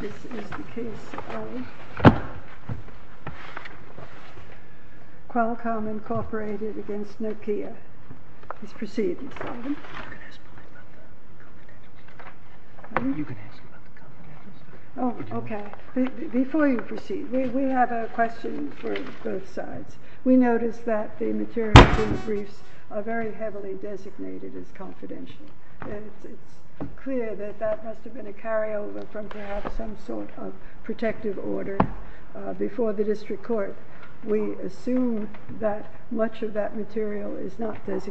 This is the case of Qualcomm Incorporated against Nokia, this proceedings item. This is the case of Qualcomm Incorporated against Nokia, this proceedings item. This is the case of Qualcomm Incorporated against Nokia, this proceedings item. This is the case of Qualcomm Incorporated against Nokia, this proceedings item. Your Honor,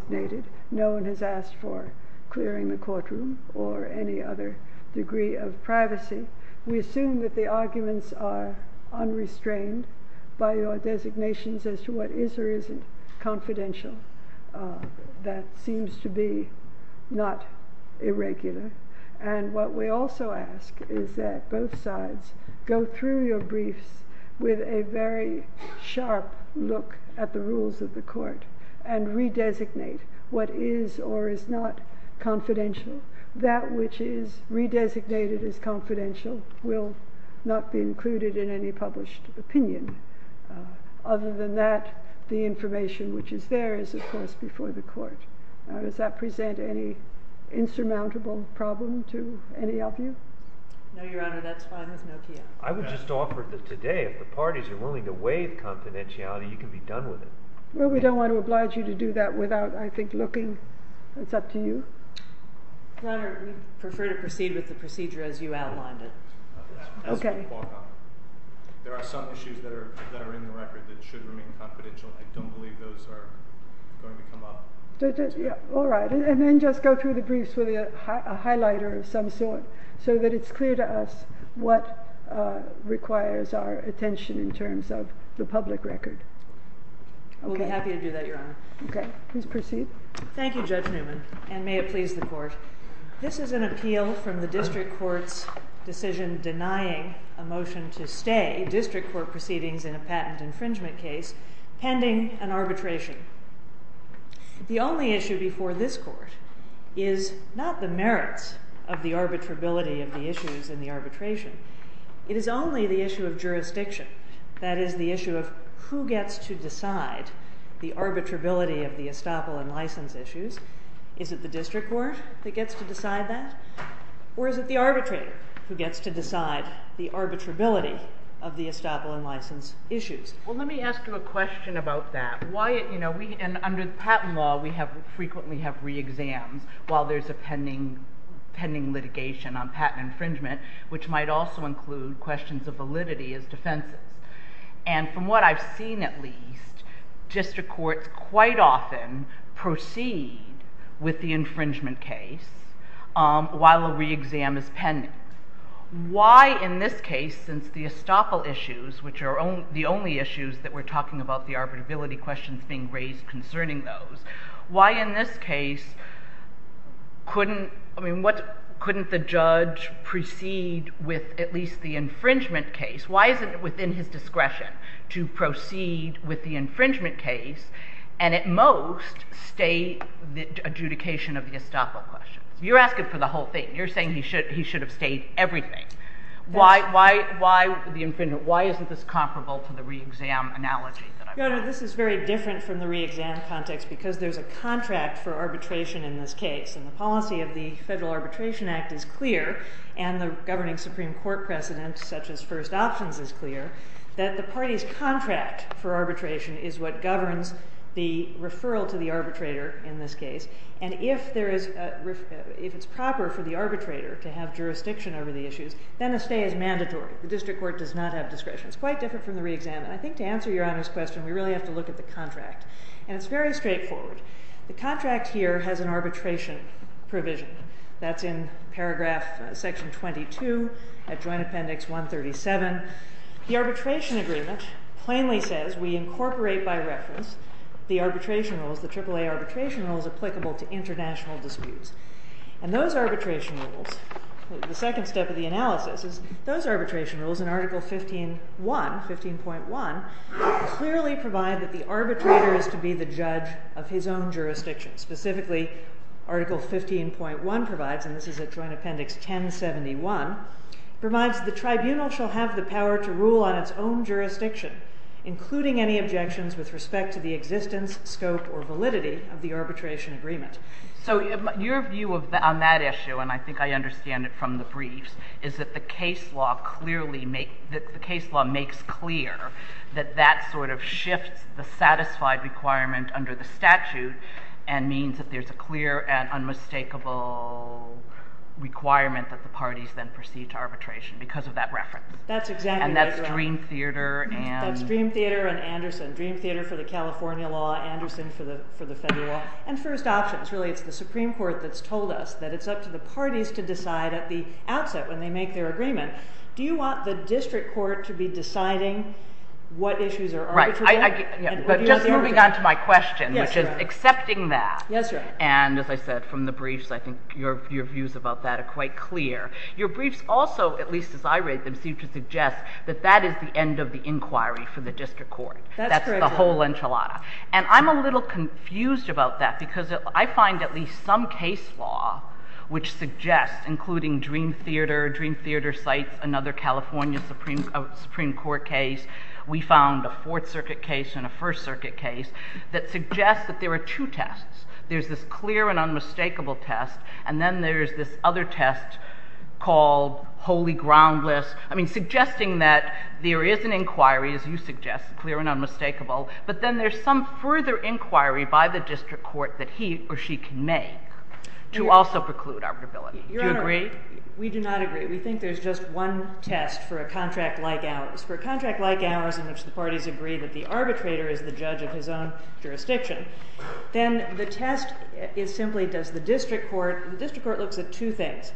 we prefer to proceed with the procedure as you outlined it. As for Qualcomm, there are some issues that are in the record that should remain confidential. I don't believe those are going to come up. We'll be happy to do that, Your Honor. Okay. Please proceed. Thank you, Judge Newman, and may it please the Court. This is an appeal from the district court's decision denying a motion to stay district court proceedings in a patent infringement case pending an arbitration. The only issue before this Court is not the merits of the arbitrability of the issues in the arbitration. It is only the issue of jurisdiction, that is, the issue of who gets to decide the arbitrability of the estoppel and license issues. Is it the district court that gets to decide that, or is it the arbitrator who gets to decide the arbitrability of the estoppel and license issues? Well, let me ask you a question about that. Under the patent law, we frequently have re-exams while there's a pending litigation on patent infringement, which might also include questions of validity as defenses. And from what I've seen, at least, district courts quite often proceed with the infringement case while a re-exam is pending. Why, in this case, since the estoppel issues, which are the only issues that we're talking about, the arbitrability questions being raised concerning those, why, in this case, couldn't the judge proceed with at least the infringement case? Why is it within his discretion to proceed with the infringement case and, at most, stay the adjudication of the estoppel questions? You're asking for the whole thing. You're saying he should have stayed everything. Why isn't this comparable to the re-exam analogy that I'm talking about? Your Honor, this is very different from the re-exam context because there's a contract for arbitration in this case. And the policy of the Federal Arbitration Act is clear, and the governing Supreme Court precedent, such as first options, is clear, that the party's contract for arbitration is what governs the referral to the arbitrator in this case. And if it's proper for the arbitrator to have jurisdiction over the issues, then a stay is mandatory. The district court does not have discretion. It's quite different from the re-exam. And I think to answer Your Honor's question, we really have to look at the contract. And it's very straightforward. The contract here has an arbitration provision. That's in paragraph section 22 at Joint Appendix 137. The arbitration agreement plainly says we incorporate by reference the arbitration rules, the AAA arbitration rules, applicable to international disputes. And those arbitration rules, the second step of the analysis is those arbitration rules in Article 15.1 clearly provide that the arbitrator is to be the judge of his own jurisdiction. Specifically, Article 15.1 provides, and this is at Joint Appendix 1071, provides the tribunal shall have the power to rule on its own jurisdiction, including any objections with respect to the existence, scope, or validity of the arbitration agreement. So your view on that issue, and I think I understand it from the briefs, is that the case law makes clear that that sort of shifts the satisfied requirement under the statute and means that there's a clear and unmistakable requirement that the parties then proceed to arbitration because of that reference. That's exactly right, Your Honor. And that's Dream Theater and... That's Dream Theater and Anderson. And first options. Really, it's the Supreme Court that's told us that it's up to the parties to decide at the outset when they make their agreement. Do you want the district court to be deciding what issues are arbitrated? Right. But just moving on to my question, which is accepting that. Yes, Your Honor. And as I said from the briefs, I think your views about that are quite clear. Your briefs also, at least as I read them, seem to suggest that that is the end of the inquiry for the district court. That's correct. That's the whole enchilada. And I'm a little confused about that because I find at least some case law which suggests, including Dream Theater, Dream Theater cites another California Supreme Court case. We found a Fourth Circuit case and a First Circuit case that suggests that there are two tests. There's this clear and unmistakable test, and then there's this other test called wholly groundless. I mean, suggesting that there is an inquiry, as you suggest, clear and unmistakable. But then there's some further inquiry by the district court that he or she can make to also preclude arbitrability. Do you agree? Your Honor, we do not agree. We think there's just one test for a contract like ours. For a contract like ours in which the parties agree that the arbitrator is the judge of his own jurisdiction, then the test is simply does the district court – the district court looks at two things.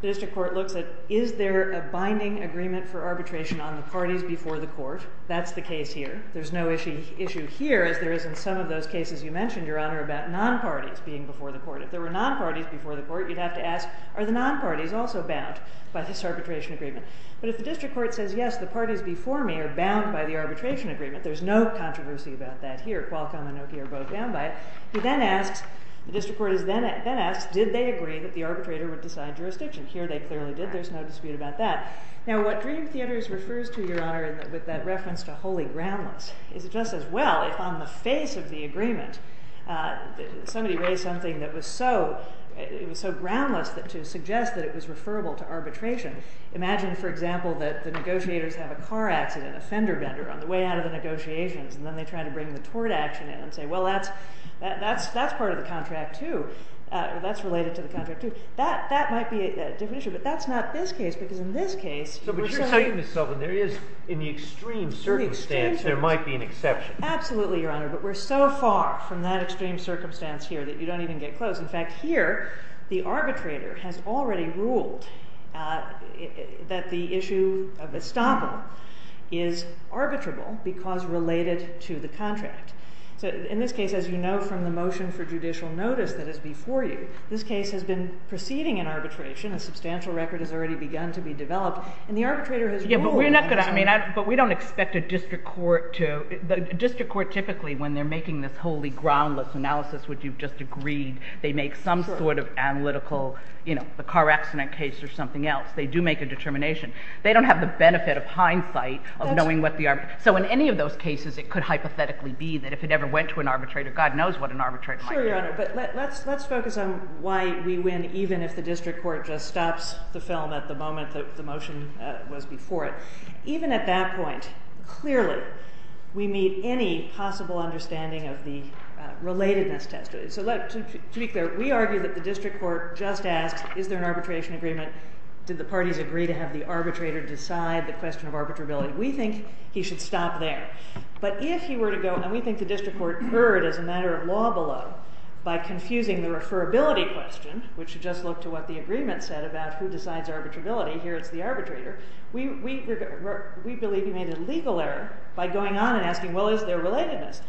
The district court looks at is there a binding agreement for arbitration on the parties before the court. That's the case here. There's no issue here as there is in some of those cases you mentioned, Your Honor, about non-parties being before the court. If there were non-parties before the court, you'd have to ask are the non-parties also bound by this arbitration agreement. But if the district court says, yes, the parties before me are bound by the arbitration agreement, there's no controversy about that here. Qualcomm and O'Keeffe are both bound by it. The district court then asks, did they agree that the arbitrator would decide jurisdiction? Here they clearly did. There's no dispute about that. Now what Dream Theaters refers to, Your Honor, with that reference to wholly groundless is just as well if on the face of the agreement somebody raised something that was so groundless to suggest that it was referable to arbitration. Imagine, for example, that the negotiators have a car accident, a fender bender on the way out of the negotiations, and then they try to bring the tort action in and say, well, that's part of the contract, too. That's related to the contract, too. That might be a different issue. But that's not this case, because in this case, we're so far from that extreme circumstance here that you don't even get close. In fact, here, the arbitrator has already ruled that the issue of estoppel is arbitrable because related to the contract. So in this case, as you know from the motion for judicial notice that is before you, this case has been proceeding in arbitration. A substantial record has already begun to be developed. And the arbitrator has ruled that it's not. Yeah, but we're not going to, I mean, but we don't expect a district court to, a district court typically, when they're making this wholly groundless analysis, which you've just agreed, they make some sort of analytical, you know, the car accident case or something else. They do make a determination. They don't have the benefit of hindsight of knowing what the, so in any of those cases, it could hypothetically be this. And if it ever went to an arbitrator, God knows what an arbitrator might do. Sure, Your Honor. But let's focus on why we win even if the district court just stops the film at the moment that the motion was before it. Even at that point, clearly, we meet any possible understanding of the relatedness test. So to be clear, we argue that the district court just asks, is there an arbitration agreement? Did the parties agree to have the arbitrator decide the question of arbitrability? We think he should stop there. But if he were to go, and we think the district court erred as a matter of law below by confusing the referability question, which should just look to what the agreement said about who decides arbitrability. Here, it's the arbitrator. We believe he made a legal error by going on and asking, well, is there relatedness?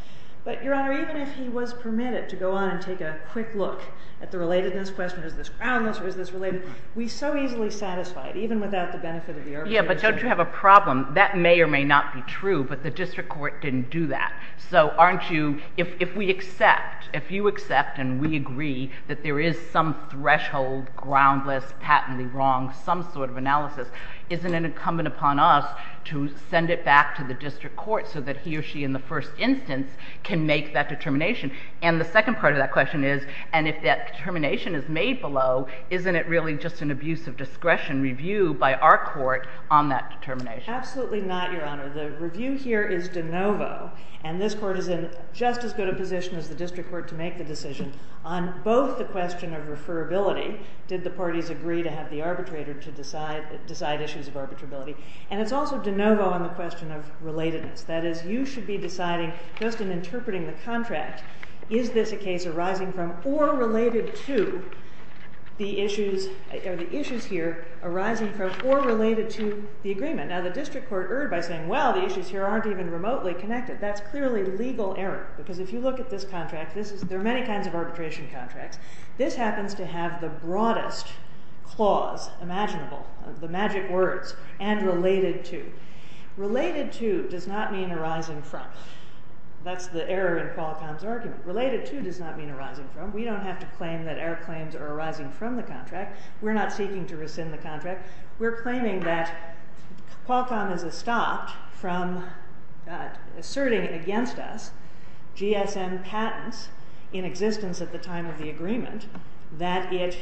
But, Your Honor, even if he was permitted to go on and take a quick look at the relatedness question, is this groundless or is this related, we so easily satisfied, even without the benefit of the arbitration. Yeah, but don't you have a problem? That may or may not be true, but the district court didn't do that. So aren't you, if we accept, if you accept and we agree that there is some threshold, groundless, patently wrong, some sort of analysis, isn't it incumbent upon us to send it back to the district court so that he or she in the first instance can make that determination? And the second part of that question is, and if that determination is made below, isn't it really just an abuse of discretion review by our court on that determination? Absolutely not, Your Honor. The review here is de novo. And this court is in just as good a position as the district court to make the decision on both the question of referability, did the parties agree to have the arbitrator to decide issues of arbitrability, and it's also de novo on the question of relatedness. That is, you should be deciding just in interpreting the contract, is this a case arising from or related to the issues, or the issues here arising from or related to the agreement? Now, the district court erred by saying, well, the issues here aren't even remotely connected. That's clearly legal error, because if you look at this contract, this is, there are many kinds of arbitration contracts. This happens to have the broadest clause imaginable, the magic words, and related to. Related to does not mean arising from. That's the error in Qualcomm's argument. Related to does not mean arising from. We don't have to claim that error claims are arising from the contract. We're claiming that Qualcomm has stopped from asserting against us GSM patents in existence at the time of the agreement, that it,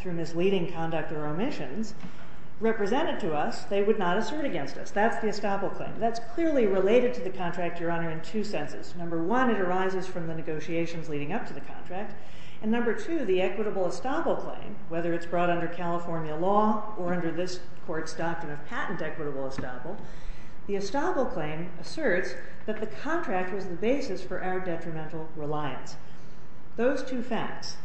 through misleading conduct or omissions, represented to us, they would not assert against us. That's the estoppel claim. That's clearly related to the contract, Your Honor, in two senses. Number one, it arises from the negotiations leading up to the contract. And number two, the equitable estoppel claim, whether it's brought under California law or under this court's doctrine of patent equitable estoppel, the estoppel claim asserts that the contract was the basis for our detrimental reliance. Those two facts,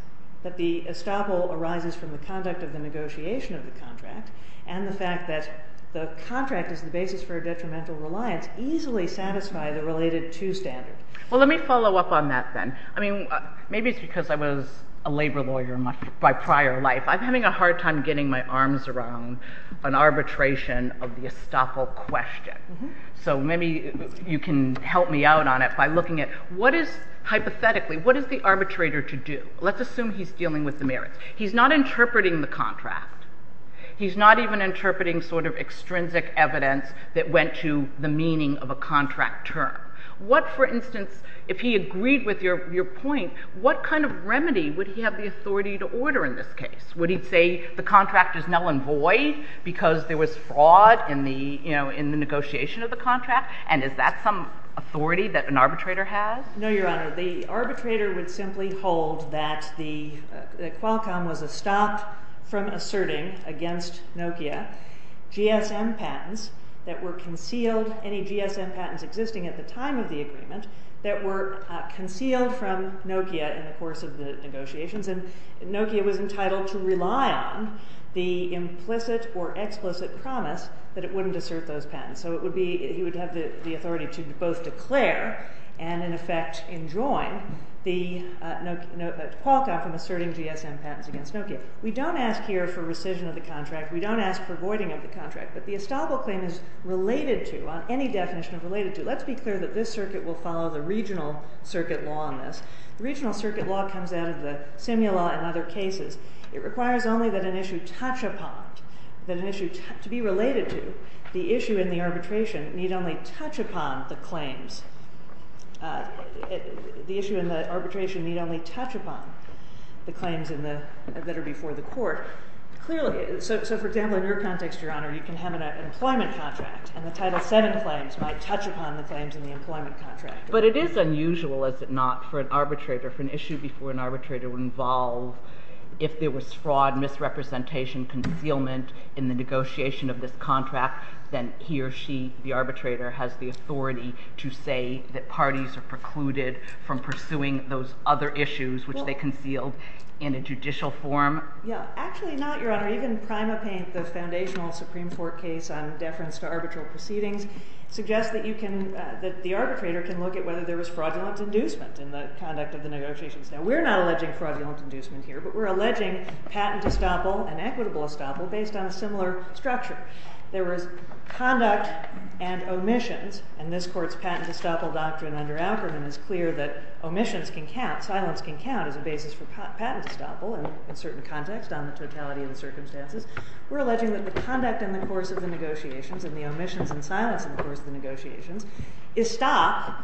that the estoppel arises from the conduct of the negotiation of the contract, and the fact that the contract is the basis for detrimental reliance, easily satisfy the related to standard. Well, let me follow up on that then. I mean, maybe it's because I was a labor lawyer my prior life. I'm having a hard time getting my arms around an arbitration of the estoppel question. So maybe you can help me out on it by looking at what is, hypothetically, what is the arbitrator to do? Let's assume he's dealing with the merits. He's not interpreting the contract. He's not even interpreting sort of extrinsic evidence that went to the meaning of a contract term. What, for instance, if he agreed with your point, what kind of remedy would he have the authority to order in this case? Would he say the contract is null and void because there was fraud in the negotiation of the contract? And is that some authority that an arbitrator has? No, Your Honor. The arbitrator would simply hold that Qualcomm was a stop from asserting against Nokia GSM patents that were concealed. Any GSM patents existing at the time of the agreement that were concealed from Nokia in the course of the negotiations. And Nokia was entitled to rely on the implicit or explicit promise that it wouldn't assert those patents. So he would have the authority to both declare and, in effect, enjoin Qualcomm asserting GSM patents against Nokia. We don't ask here for rescission of the contract. We don't ask for voiding of the contract. But the estoppel claim is related to, on any definition of related to. Let's be clear that this circuit will follow the regional circuit law on this. The regional circuit law comes out of the Simula and other cases. It requires only that an issue touch upon, that an issue to be related to, the issue in the arbitration need only touch upon the claims. The issue in the arbitration need only touch upon the claims that are before the court. So, for example, in your context, Your Honor, you can have an employment contract. And the Title VII claims might touch upon the claims in the employment contract. But it is unusual, is it not, for an arbitrator, for an issue before an arbitrator would involve, if there was fraud, misrepresentation, concealment in the negotiation of this contract, then he or she, the arbitrator, has the authority to say that parties are precluded from pursuing those other issues, which they concealed in a judicial form. Yeah, actually not, Your Honor. Even Prima Paint, the foundational Supreme Court case on deference to arbitral proceedings, suggests that the arbitrator can look at whether there was fraudulent inducement in the conduct of the negotiations. Now, we're not alleging fraudulent inducement here. But we're alleging patent estoppel and equitable estoppel based on a similar structure. There was conduct and omissions. And this court's patent estoppel doctrine under Ackerman is clear that omissions can count, silence can count, as a basis for patent estoppel. And in certain contexts, on the totality of the circumstances, we're alleging that the conduct in the course of the negotiations and the omissions and silence in the course of the negotiations is stop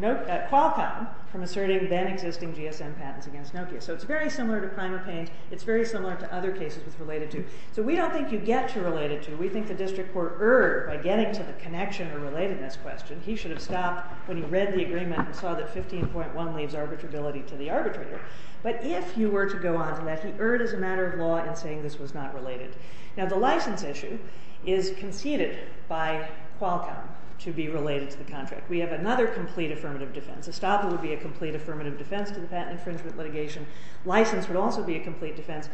Qualcomm from asserting then-existing GSM patents against Nokia. So it's very similar to Prima Paint. It's very similar to other cases it's related to. So we don't think you get to relate it to. We think the district court erred by getting to the connection or relatedness question. He should have stopped when he read the agreement and saw that 15.1 leaves arbitrability to the arbitrator. But if you were to go on to that, he erred as a matter of law in saying this was not related. Now, the license issue is conceded by Qualcomm to be related to the contract. We have another complete affirmative defense. Estoppel would be a complete affirmative defense to the patent infringement litigation. License would also be a complete defense.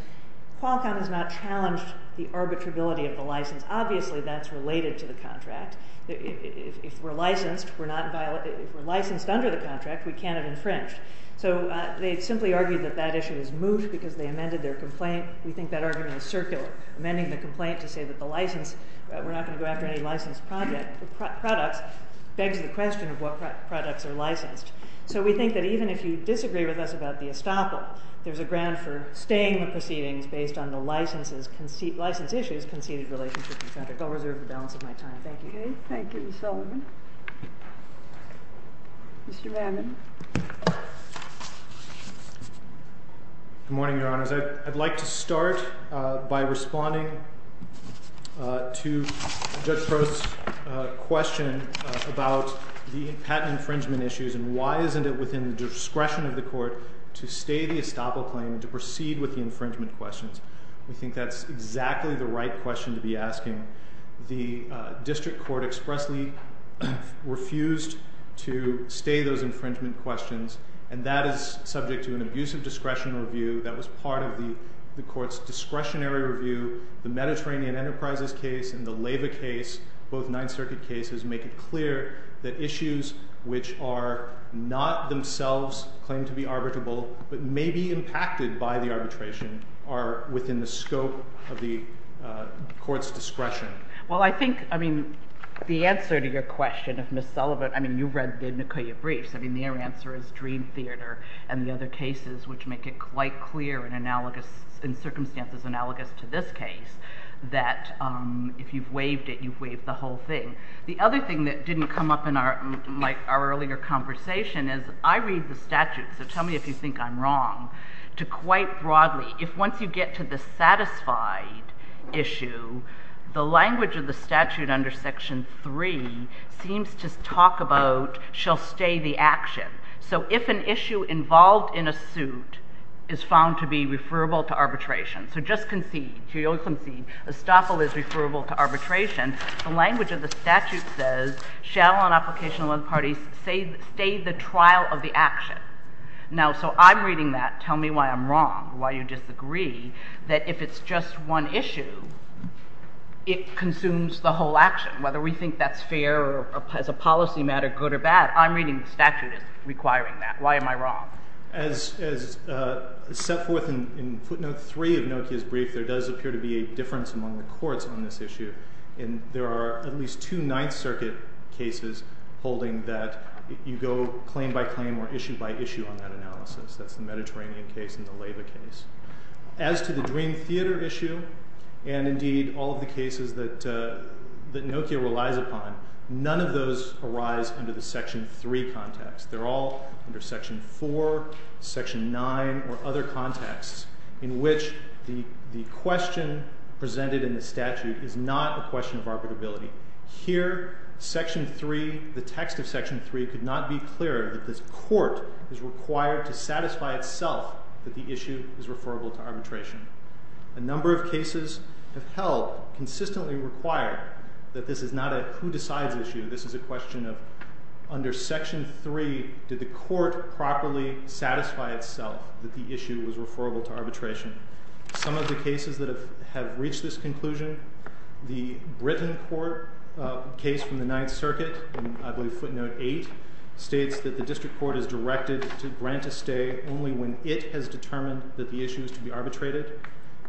Qualcomm has not challenged the arbitrability of the license. Obviously, that's related to the contract. If we're licensed under the contract, we can't have infringed. So they simply argued that that issue is moot because they amended their complaint. We think that argument is circular. Amending the complaint to say that we're not going to go after any licensed products begs the question of what products are licensed. So we think that even if you disagree with us about the Estoppel, there's a grant for staying the proceedings based on the license issues conceded related to the contract. I'll reserve the balance of my time. Thank you. Thank you, Ms. Sullivan. Mr. Mammon. Good morning, Your Honors. I'd like to start by responding to Judge Prost's question about the patent infringement issues and why isn't it within the discretion of the court to stay the Estoppel claim and to proceed with the infringement questions. We think that's exactly the right question to be asking. The district court expressly refused to stay those infringement questions, and that is subject to an abusive discretion review that was part of the court's discretionary review. The Mediterranean Enterprises case and the Leyva case, both Ninth Circuit cases, make it clear that issues which are not themselves claimed to be arbitrable but may be impacted by the arbitration are within the scope of the court's discretion. Well, I think, I mean, the answer to your question of Ms. Sullivan, I mean, you've read the Nicoya briefs. I mean, their answer is Dream Theater and the other cases which make it quite clear and analogous, in circumstances analogous to this case, that if you've waived it, you've waived the whole thing. The other thing that didn't come up in our earlier conversation is I read the statute, so tell me if you think I'm wrong, to quite broadly, if once you get to the satisfied issue, the language of the statute under Section 3 seems to talk about shall stay the action. So if an issue involved in a suit is found to be referable to arbitration, so just concede, to concede, estoppel is referable to arbitration, the language of the statute says shall on application of one party stay the trial of the action. Now, so I'm reading that. Tell me why I'm wrong, why you disagree, that if it's just one issue, it consumes the whole action, whether we think that's fair or, as a policy matter, good or bad. I'm reading the statute as requiring that. Why am I wrong? As set forth in footnote 3 of Nokia's brief, there does appear to be a difference among the courts on this issue, and there are at least two Ninth Circuit cases holding that you go claim by claim or issue by issue on that analysis. That's the Mediterranean case and the Leyva case. As to the Dream Theater issue and, indeed, all of the cases that Nokia relies upon, none of those arise under the Section 3 context. They're all under Section 4, Section 9, or other contexts in which the question presented in the statute is not a question of arbitrability. Here, Section 3, the text of Section 3, could not be clearer that this court is required to satisfy itself that the issue is referable to arbitration. A number of cases have held, consistently required, that this is not a who-decides issue. This is a question of, under Section 3, did the court properly satisfy itself that the issue was referable to arbitration? Some of the cases that have reached this conclusion, the Britain court case from the Ninth Circuit in, I believe, footnote 8, states that the district court is directed to grant a stay only when it has determined that the issue is to be arbitrated.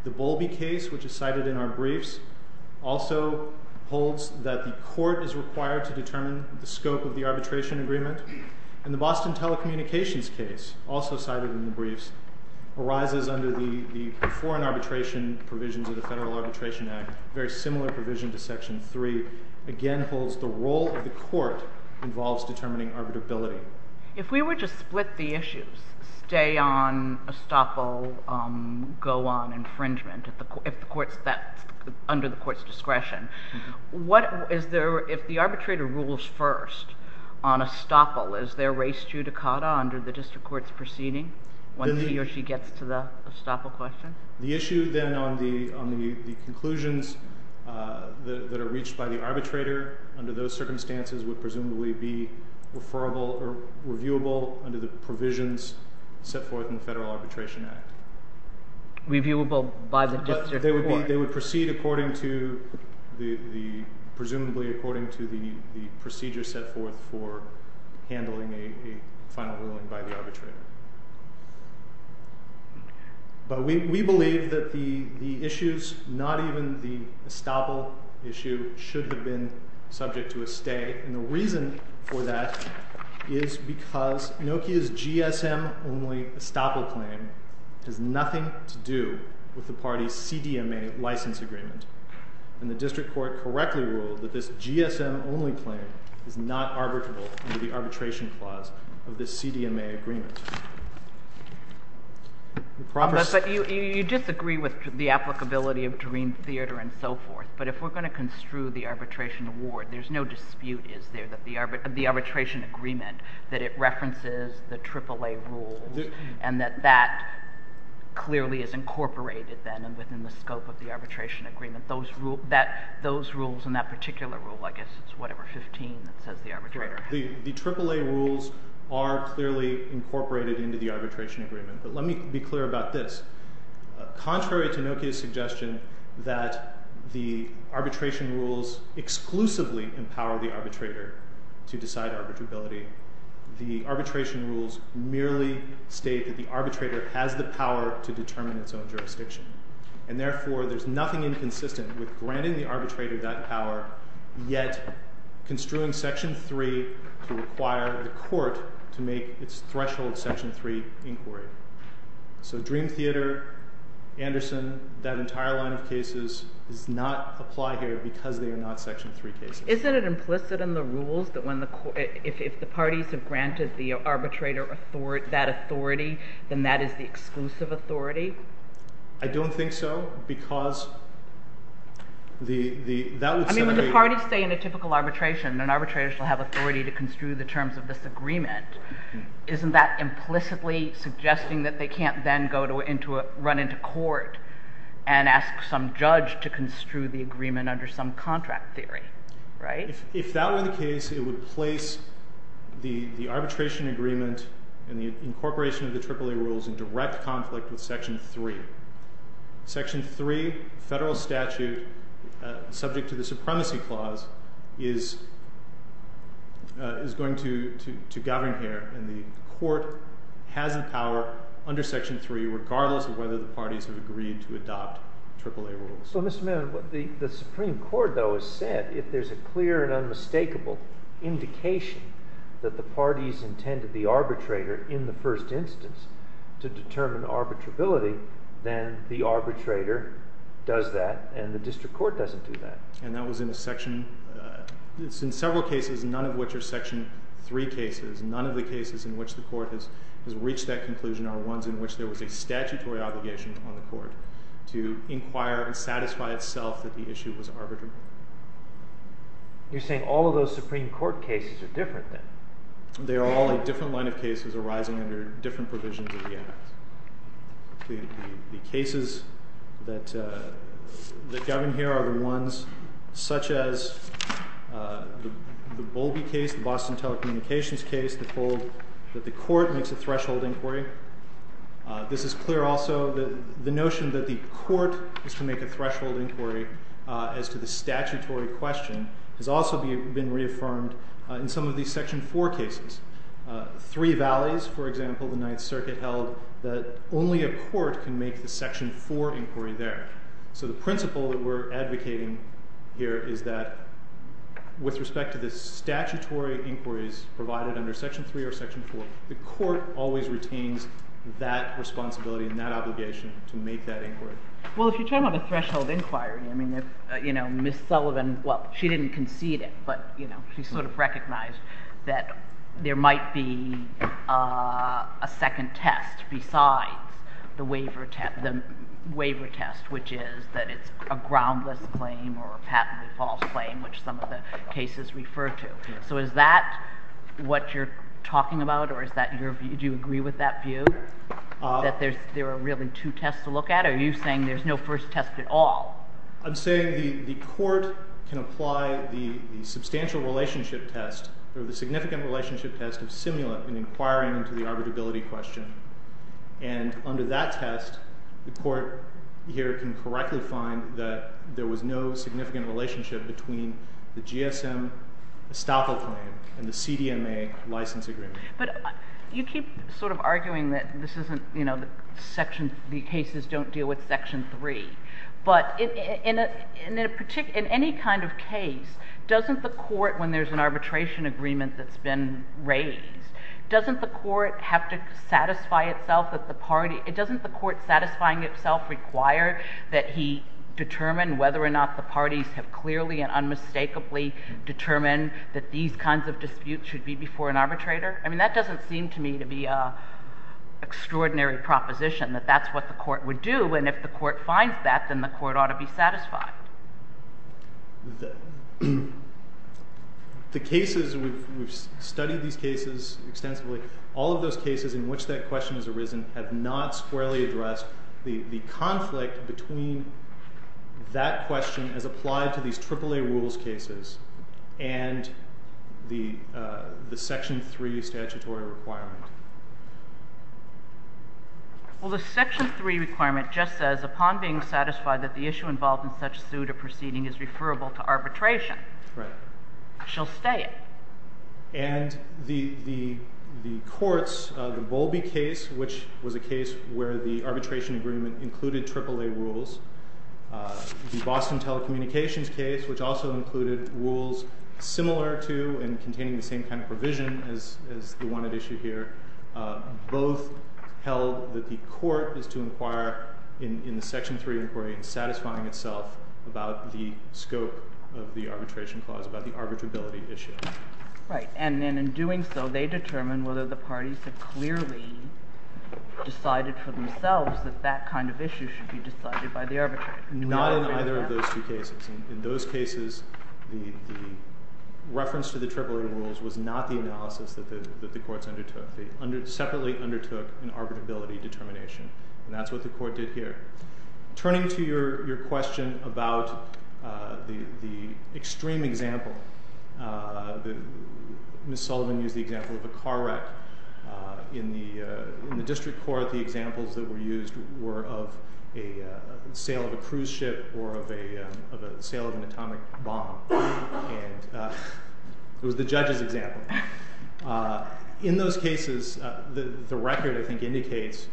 The Bowlby case, which is cited in our briefs, also holds that the court is required to determine the scope of the arbitration agreement. And the Boston telecommunications case, also cited in the briefs, arises under the foreign arbitration provisions of the Federal Arbitration Act, a very similar provision to Section 3, again holds the role of the court involves determining arbitrability. If we were to split the issues, stay on estoppel, go on infringement, under the court's discretion, if the arbitrator rules first on estoppel, is there res judicata under the district court's proceeding, once he or she gets to the estoppel question? The issue then on the conclusions that are reached by the arbitrator under those circumstances would presumably be referable or reviewable under the provisions set forth in the Federal Arbitration Act. Reviewable by the district court. They would proceed presumably according to the procedure set forth for handling a final ruling by the arbitrator. But we believe that the issues, not even the estoppel issue, should have been subject to a stay. And the reason for that is because Nokia's GSM-only estoppel claim has nothing to do with the party's CDMA license agreement. And the district court correctly ruled that this GSM-only claim is not arbitrable under the arbitration clause of this CDMA agreement. But you disagree with the applicability of Dream Theater and so forth, but if we're going to construe the arbitration award, there's no dispute, is there, that the arbitration agreement, that it references the AAA rules, and that that clearly is incorporated then within the scope of the arbitration agreement. Those rules and that particular rule, I guess it's whatever, 15, that says the arbitrator. The AAA rules are clearly incorporated into the arbitration agreement. But let me be clear about this. Contrary to Nokia's suggestion that the arbitration rules exclusively empower the arbitrator to decide arbitrability, the arbitration rules merely state that the arbitrator has the power to determine its own jurisdiction. And therefore, there's nothing inconsistent with granting the arbitrator that power, yet construing Section 3 to require the court to make its threshold Section 3 inquiry. So Dream Theater, Anderson, that entire line of cases does not apply here because they are not Section 3 cases. Isn't it implicit in the rules that if the parties have granted the arbitrator that authority, then that is the exclusive authority? I don't think so because the – I mean, when the parties say in a typical arbitration, an arbitrator shall have authority to construe the terms of this agreement, isn't that implicitly suggesting that they can't then go into a – run into court and ask some judge to construe the agreement under some contract theory, right? If that were the case, it would place the arbitration agreement and the incorporation of the AAA rules in direct conflict with Section 3. Section 3, federal statute, subject to the supremacy clause, is going to govern here, and the court has the power under Section 3 regardless of whether the parties have agreed to adopt AAA rules. So Mr. Mannon, the Supreme Court, though, has said if there's a clear and unmistakable indication that the parties intended the arbitrator in the first instance to determine arbitrability, then the arbitrator does that and the district court doesn't do that. And that was in a section – it's in several cases, none of which are Section 3 cases. None of the cases in which the court has reached that conclusion are ones in which there was a statutory obligation on the court to inquire and satisfy itself that the issue was arbitrable. You're saying all of those Supreme Court cases are different, then? They are all a different line of cases arising under different provisions of the Act. The cases that govern here are the ones such as the Bowlby case, the Boston Telecommunications case, that hold that the court makes a threshold inquiry. This is clear also, the notion that the court is to make a threshold inquiry as to the statutory question has also been reaffirmed in some of these Section 4 cases. Three Valleys, for example, the Ninth Circuit held that only a court can make the Section 4 inquiry there. So the principle that we're advocating here is that with respect to the statutory inquiries provided under Section 3 or Section 4, the court always retains that responsibility and that obligation to make that inquiry. Well, if you're talking about a threshold inquiry, Ms. Sullivan, well, she didn't concede it, but she sort of recognized that there might be a second test besides the waiver test, which is that it's a groundless claim or a patently false claim, which some of the cases refer to. So is that what you're talking about, or do you agree with that view? That there are really two tests to look at, or are you saying there's no first test at all? I'm saying the court can apply the substantial relationship test or the significant relationship test of simulant in inquiring into the arbitrability question. And under that test, the court here can correctly find that there was no significant relationship between the GSM estoppel claim and the CDMA license agreement. But you keep sort of arguing that the cases don't deal with Section 3. But in any kind of case, doesn't the court, when there's an arbitration agreement that's been raised, doesn't the court have to satisfy itself that the party— doesn't the court satisfying itself require that he determine whether or not the parties have clearly and unmistakably determined that these kinds of disputes should be before an arbitrator? I mean, that doesn't seem to me to be an extraordinary proposition, that that's what the court would do. And if the court finds that, then the court ought to be satisfied. The cases—we've studied these cases extensively. All of those cases in which that question has arisen have not squarely addressed the conflict between that question as applied to these AAA rules cases and the Section 3 statutory requirement. Well, the Section 3 requirement just says, upon being satisfied that the issue involved in such suit or proceeding is referable to arbitration, she'll stay it. And the courts, the Bowlby case, which was a case where the arbitration agreement included AAA rules, the Boston telecommunications case, which also included rules similar to and containing the same kind of provision as the one at issue here, both held that the court is to inquire in the Section 3 inquiry in satisfying itself about the scope of the arbitration clause, about the arbitrability issue. Right. And in doing so, they determine whether the parties have clearly decided for themselves that that kind of issue should be decided by the arbitrator. Not in either of those two cases. In those cases, the reference to the AAA rules was not the analysis that the courts undertook. They separately undertook an arbitrability determination. And that's what the court did here. Turning to your question about the extreme example, Ms. Sullivan used the example of a car wreck. In the district court, the examples that were used were of a sale of a cruise ship or of a sale of an atomic bomb. And it was the judge's example. In those cases, the record, I think, indicates,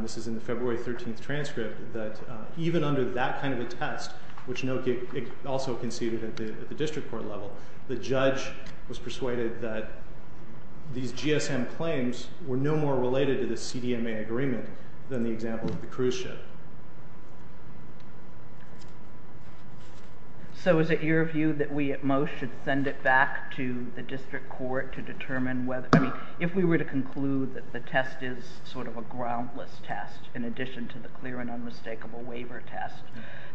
this is in the February 13th transcript, that even under that kind of a test, which also conceded at the district court level, the judge was persuaded that these GSM claims were no more related to the CDMA agreement than the example of the cruise ship. So is it your view that we at most should send it back to the district court to determine whether, if we were to conclude that the test is sort of a groundless test, in addition to the clear and unmistakable waiver test,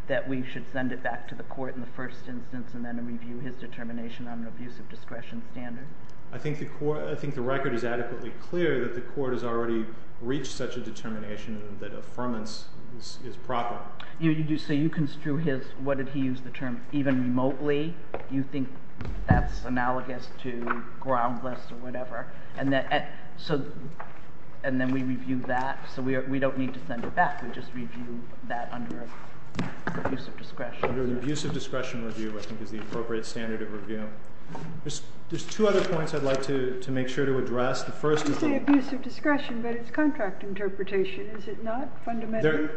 that we should send it back to the court in the first instance and then review his determination on an abuse of discretion standard? I think the record is adequately clear that the court has already reached such a determination that affirmance is proper. So you construe his, what did he use the term, even remotely you think that's analogous to groundless or whatever, and then we review that, so we don't need to send it back. We just review that under abuse of discretion. The abuse of discretion review I think is the appropriate standard of review. There's two other points I'd like to make sure to address. You say abuse of discretion, but it's contract interpretation, is it not, fundamentally?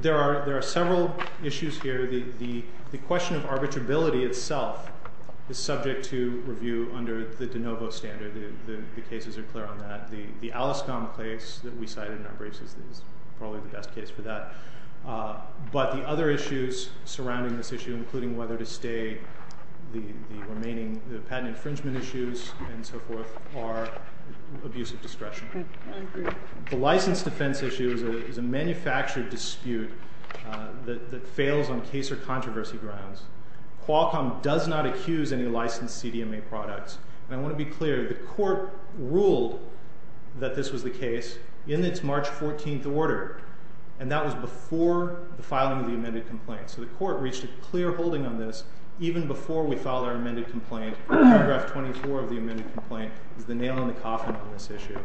There are several issues here. The question of arbitrability itself is subject to review under the de novo standard. The cases are clear on that. The ALISCOM case that we cited in our briefs is probably the best case for that. But the other issues surrounding this issue, including whether to stay, the remaining patent infringement issues, and so forth, are abuse of discretion. The license defense issue is a manufactured dispute that fails on case or controversy grounds. Qualcomm does not accuse any licensed CDMA products. And I want to be clear, the court ruled that this was the case in its March 14th order, and that was before the filing of the amended complaint. So the court reached a clear holding on this even before we filed our amended complaint. Paragraph 24 of the amended complaint is the nail in the coffin on this issue.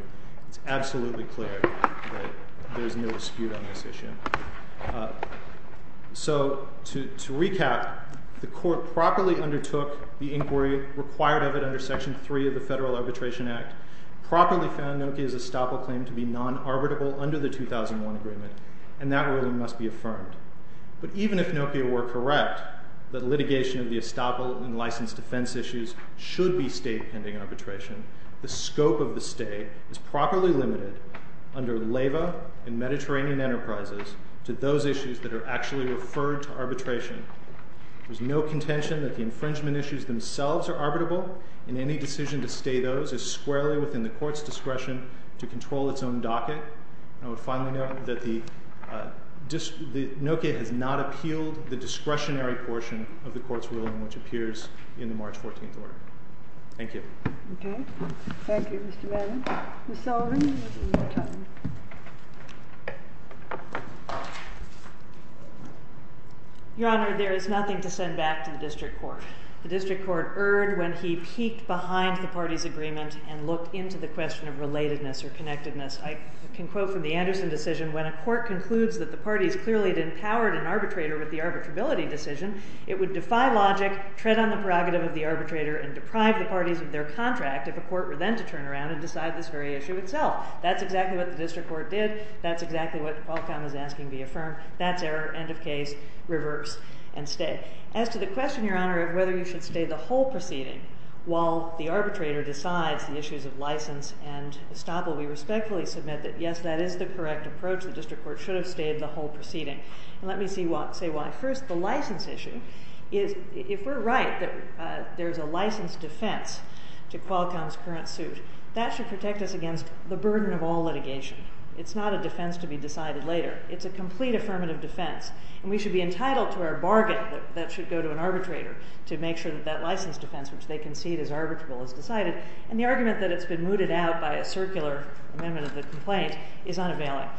It's absolutely clear that there's no dispute on this issue. So to recap, the court properly undertook the inquiry required of it under Section 3 of the Federal Arbitration Act, properly found Nokia's estoppel claim to be non-arbitrable under the 2001 agreement, and that ruling must be affirmed. But even if Nokia were correct that litigation of the estoppel and licensed defense issues should be state-pending arbitration, the scope of the stay is properly limited under LEVA and Mediterranean Enterprises to those issues that are actually referred to arbitration. There's no contention that the infringement issues themselves are arbitrable, and any decision to stay those is squarely within the court's discretion to control its own docket. I would finally note that Nokia has not appealed the discretionary portion of the court's ruling which appears in the March 14th order. Thank you. Okay. Thank you, Mr. Madden. Ms. Sullivan, you have a little more time. Your Honor, there is nothing to send back to the district court. The district court erred when he peeked behind the party's agreement and looked into the question of relatedness or connectedness. I can quote from the Anderson decision, when a court concludes that the parties clearly didn't power an arbitrator with the arbitrability decision, it would defy logic, tread on the prerogative of the arbitrator, and deprive the parties of their contract if a court were then to turn around and decide this very issue itself. That's exactly what the district court did. That's exactly what Qualcomm is asking to be affirmed. That's error, end of case, reverse, and stay. As to the question, Your Honor, of whether you should stay the whole proceeding while the arbitrator decides the issues of license and estoppel, we respectfully submit that, yes, that is the correct approach. The district court should have stayed the whole proceeding. Let me say why. First, the license issue is, if we're right that there's a license defense to Qualcomm's current suit, that should protect us against the burden of all litigation. It's not a defense to be decided later. It's a complete affirmative defense. And we should be entitled to our bargain that that should go to an arbitrator to make sure that that license defense, which they concede is arbitrable, is decided. And the argument that it's been mooted out by a circular amendment of the complaint is unavailable.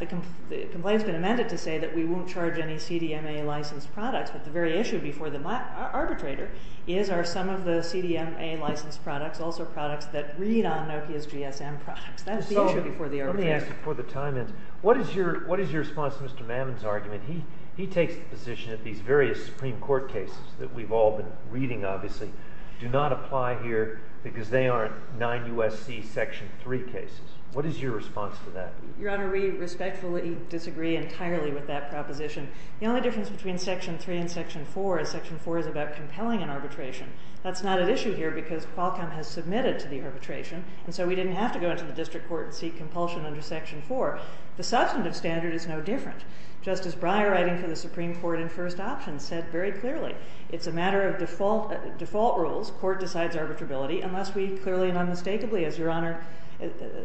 The complaint's been amended to say that we won't charge any CDMA-licensed products, but the very issue before the arbitrator is, are some of the CDMA-licensed products also products that read on Nokia's GSM products? That's the issue before the arbitrator. Let me ask you before the time ends, what is your response to Mr. Mammon's argument? He takes the position that these various Supreme Court cases that we've all been reading, obviously, do not apply here because they aren't 9 U.S.C. Section 3 cases. What is your response to that? Your Honor, we respectfully disagree entirely with that proposition. The only difference between Section 3 and Section 4 is Section 4 is about compelling an arbitration. That's not an issue here because Qualcomm has submitted to the arbitration, and so we didn't have to go into the district court and seek compulsion under Section 4. The substantive standard is no different. Justice Breyer, writing for the Supreme Court in First Option, said very clearly, it's a matter of default rules. Court decides arbitrability unless we clearly and unmistakably, as Your Honor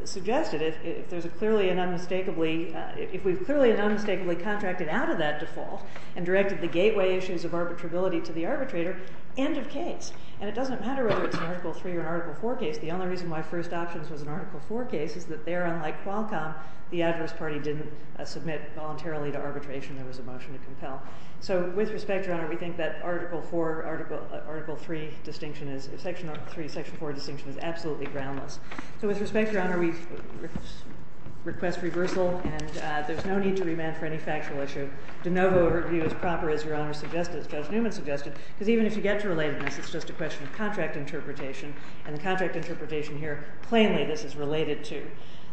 suggested, if there's a clearly and unmistakably, if we've clearly and unmistakably contracted out of that default and directed the gateway issues of arbitrability to the arbitrator, end of case. And it doesn't matter whether it's an Article 3 or an Article 4 case. The only reason why First Options was an Article 4 case is that there, unlike Qualcomm, the adverse party didn't submit voluntarily to arbitration. There was a motion to compel. So with respect, Your Honor, we think that Article 4, Article 3 distinction is, Section 3, Section 4 distinction is absolutely groundless. So with respect, Your Honor, we request reversal, and there's no need to remand for any factual issue. De novo overview is proper, as Your Honor suggested, as Judge Newman suggested, because even if you get to relatedness, it's just a question of contract interpretation, and the contract interpretation here, plainly, this is related to.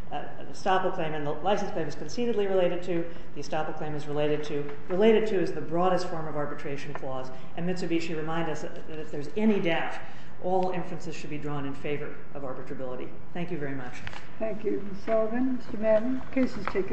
The estoppel claim in the license plate is concededly related to. The estoppel claim is related to. Related to is the broadest form of arbitration clause, and Mitsubishi remind us that if there's any doubt, all inferences should be drawn in favor of arbitrability. Thank you very much. Thank you, Ms. Sullivan. Mr. Madden, the case is taken.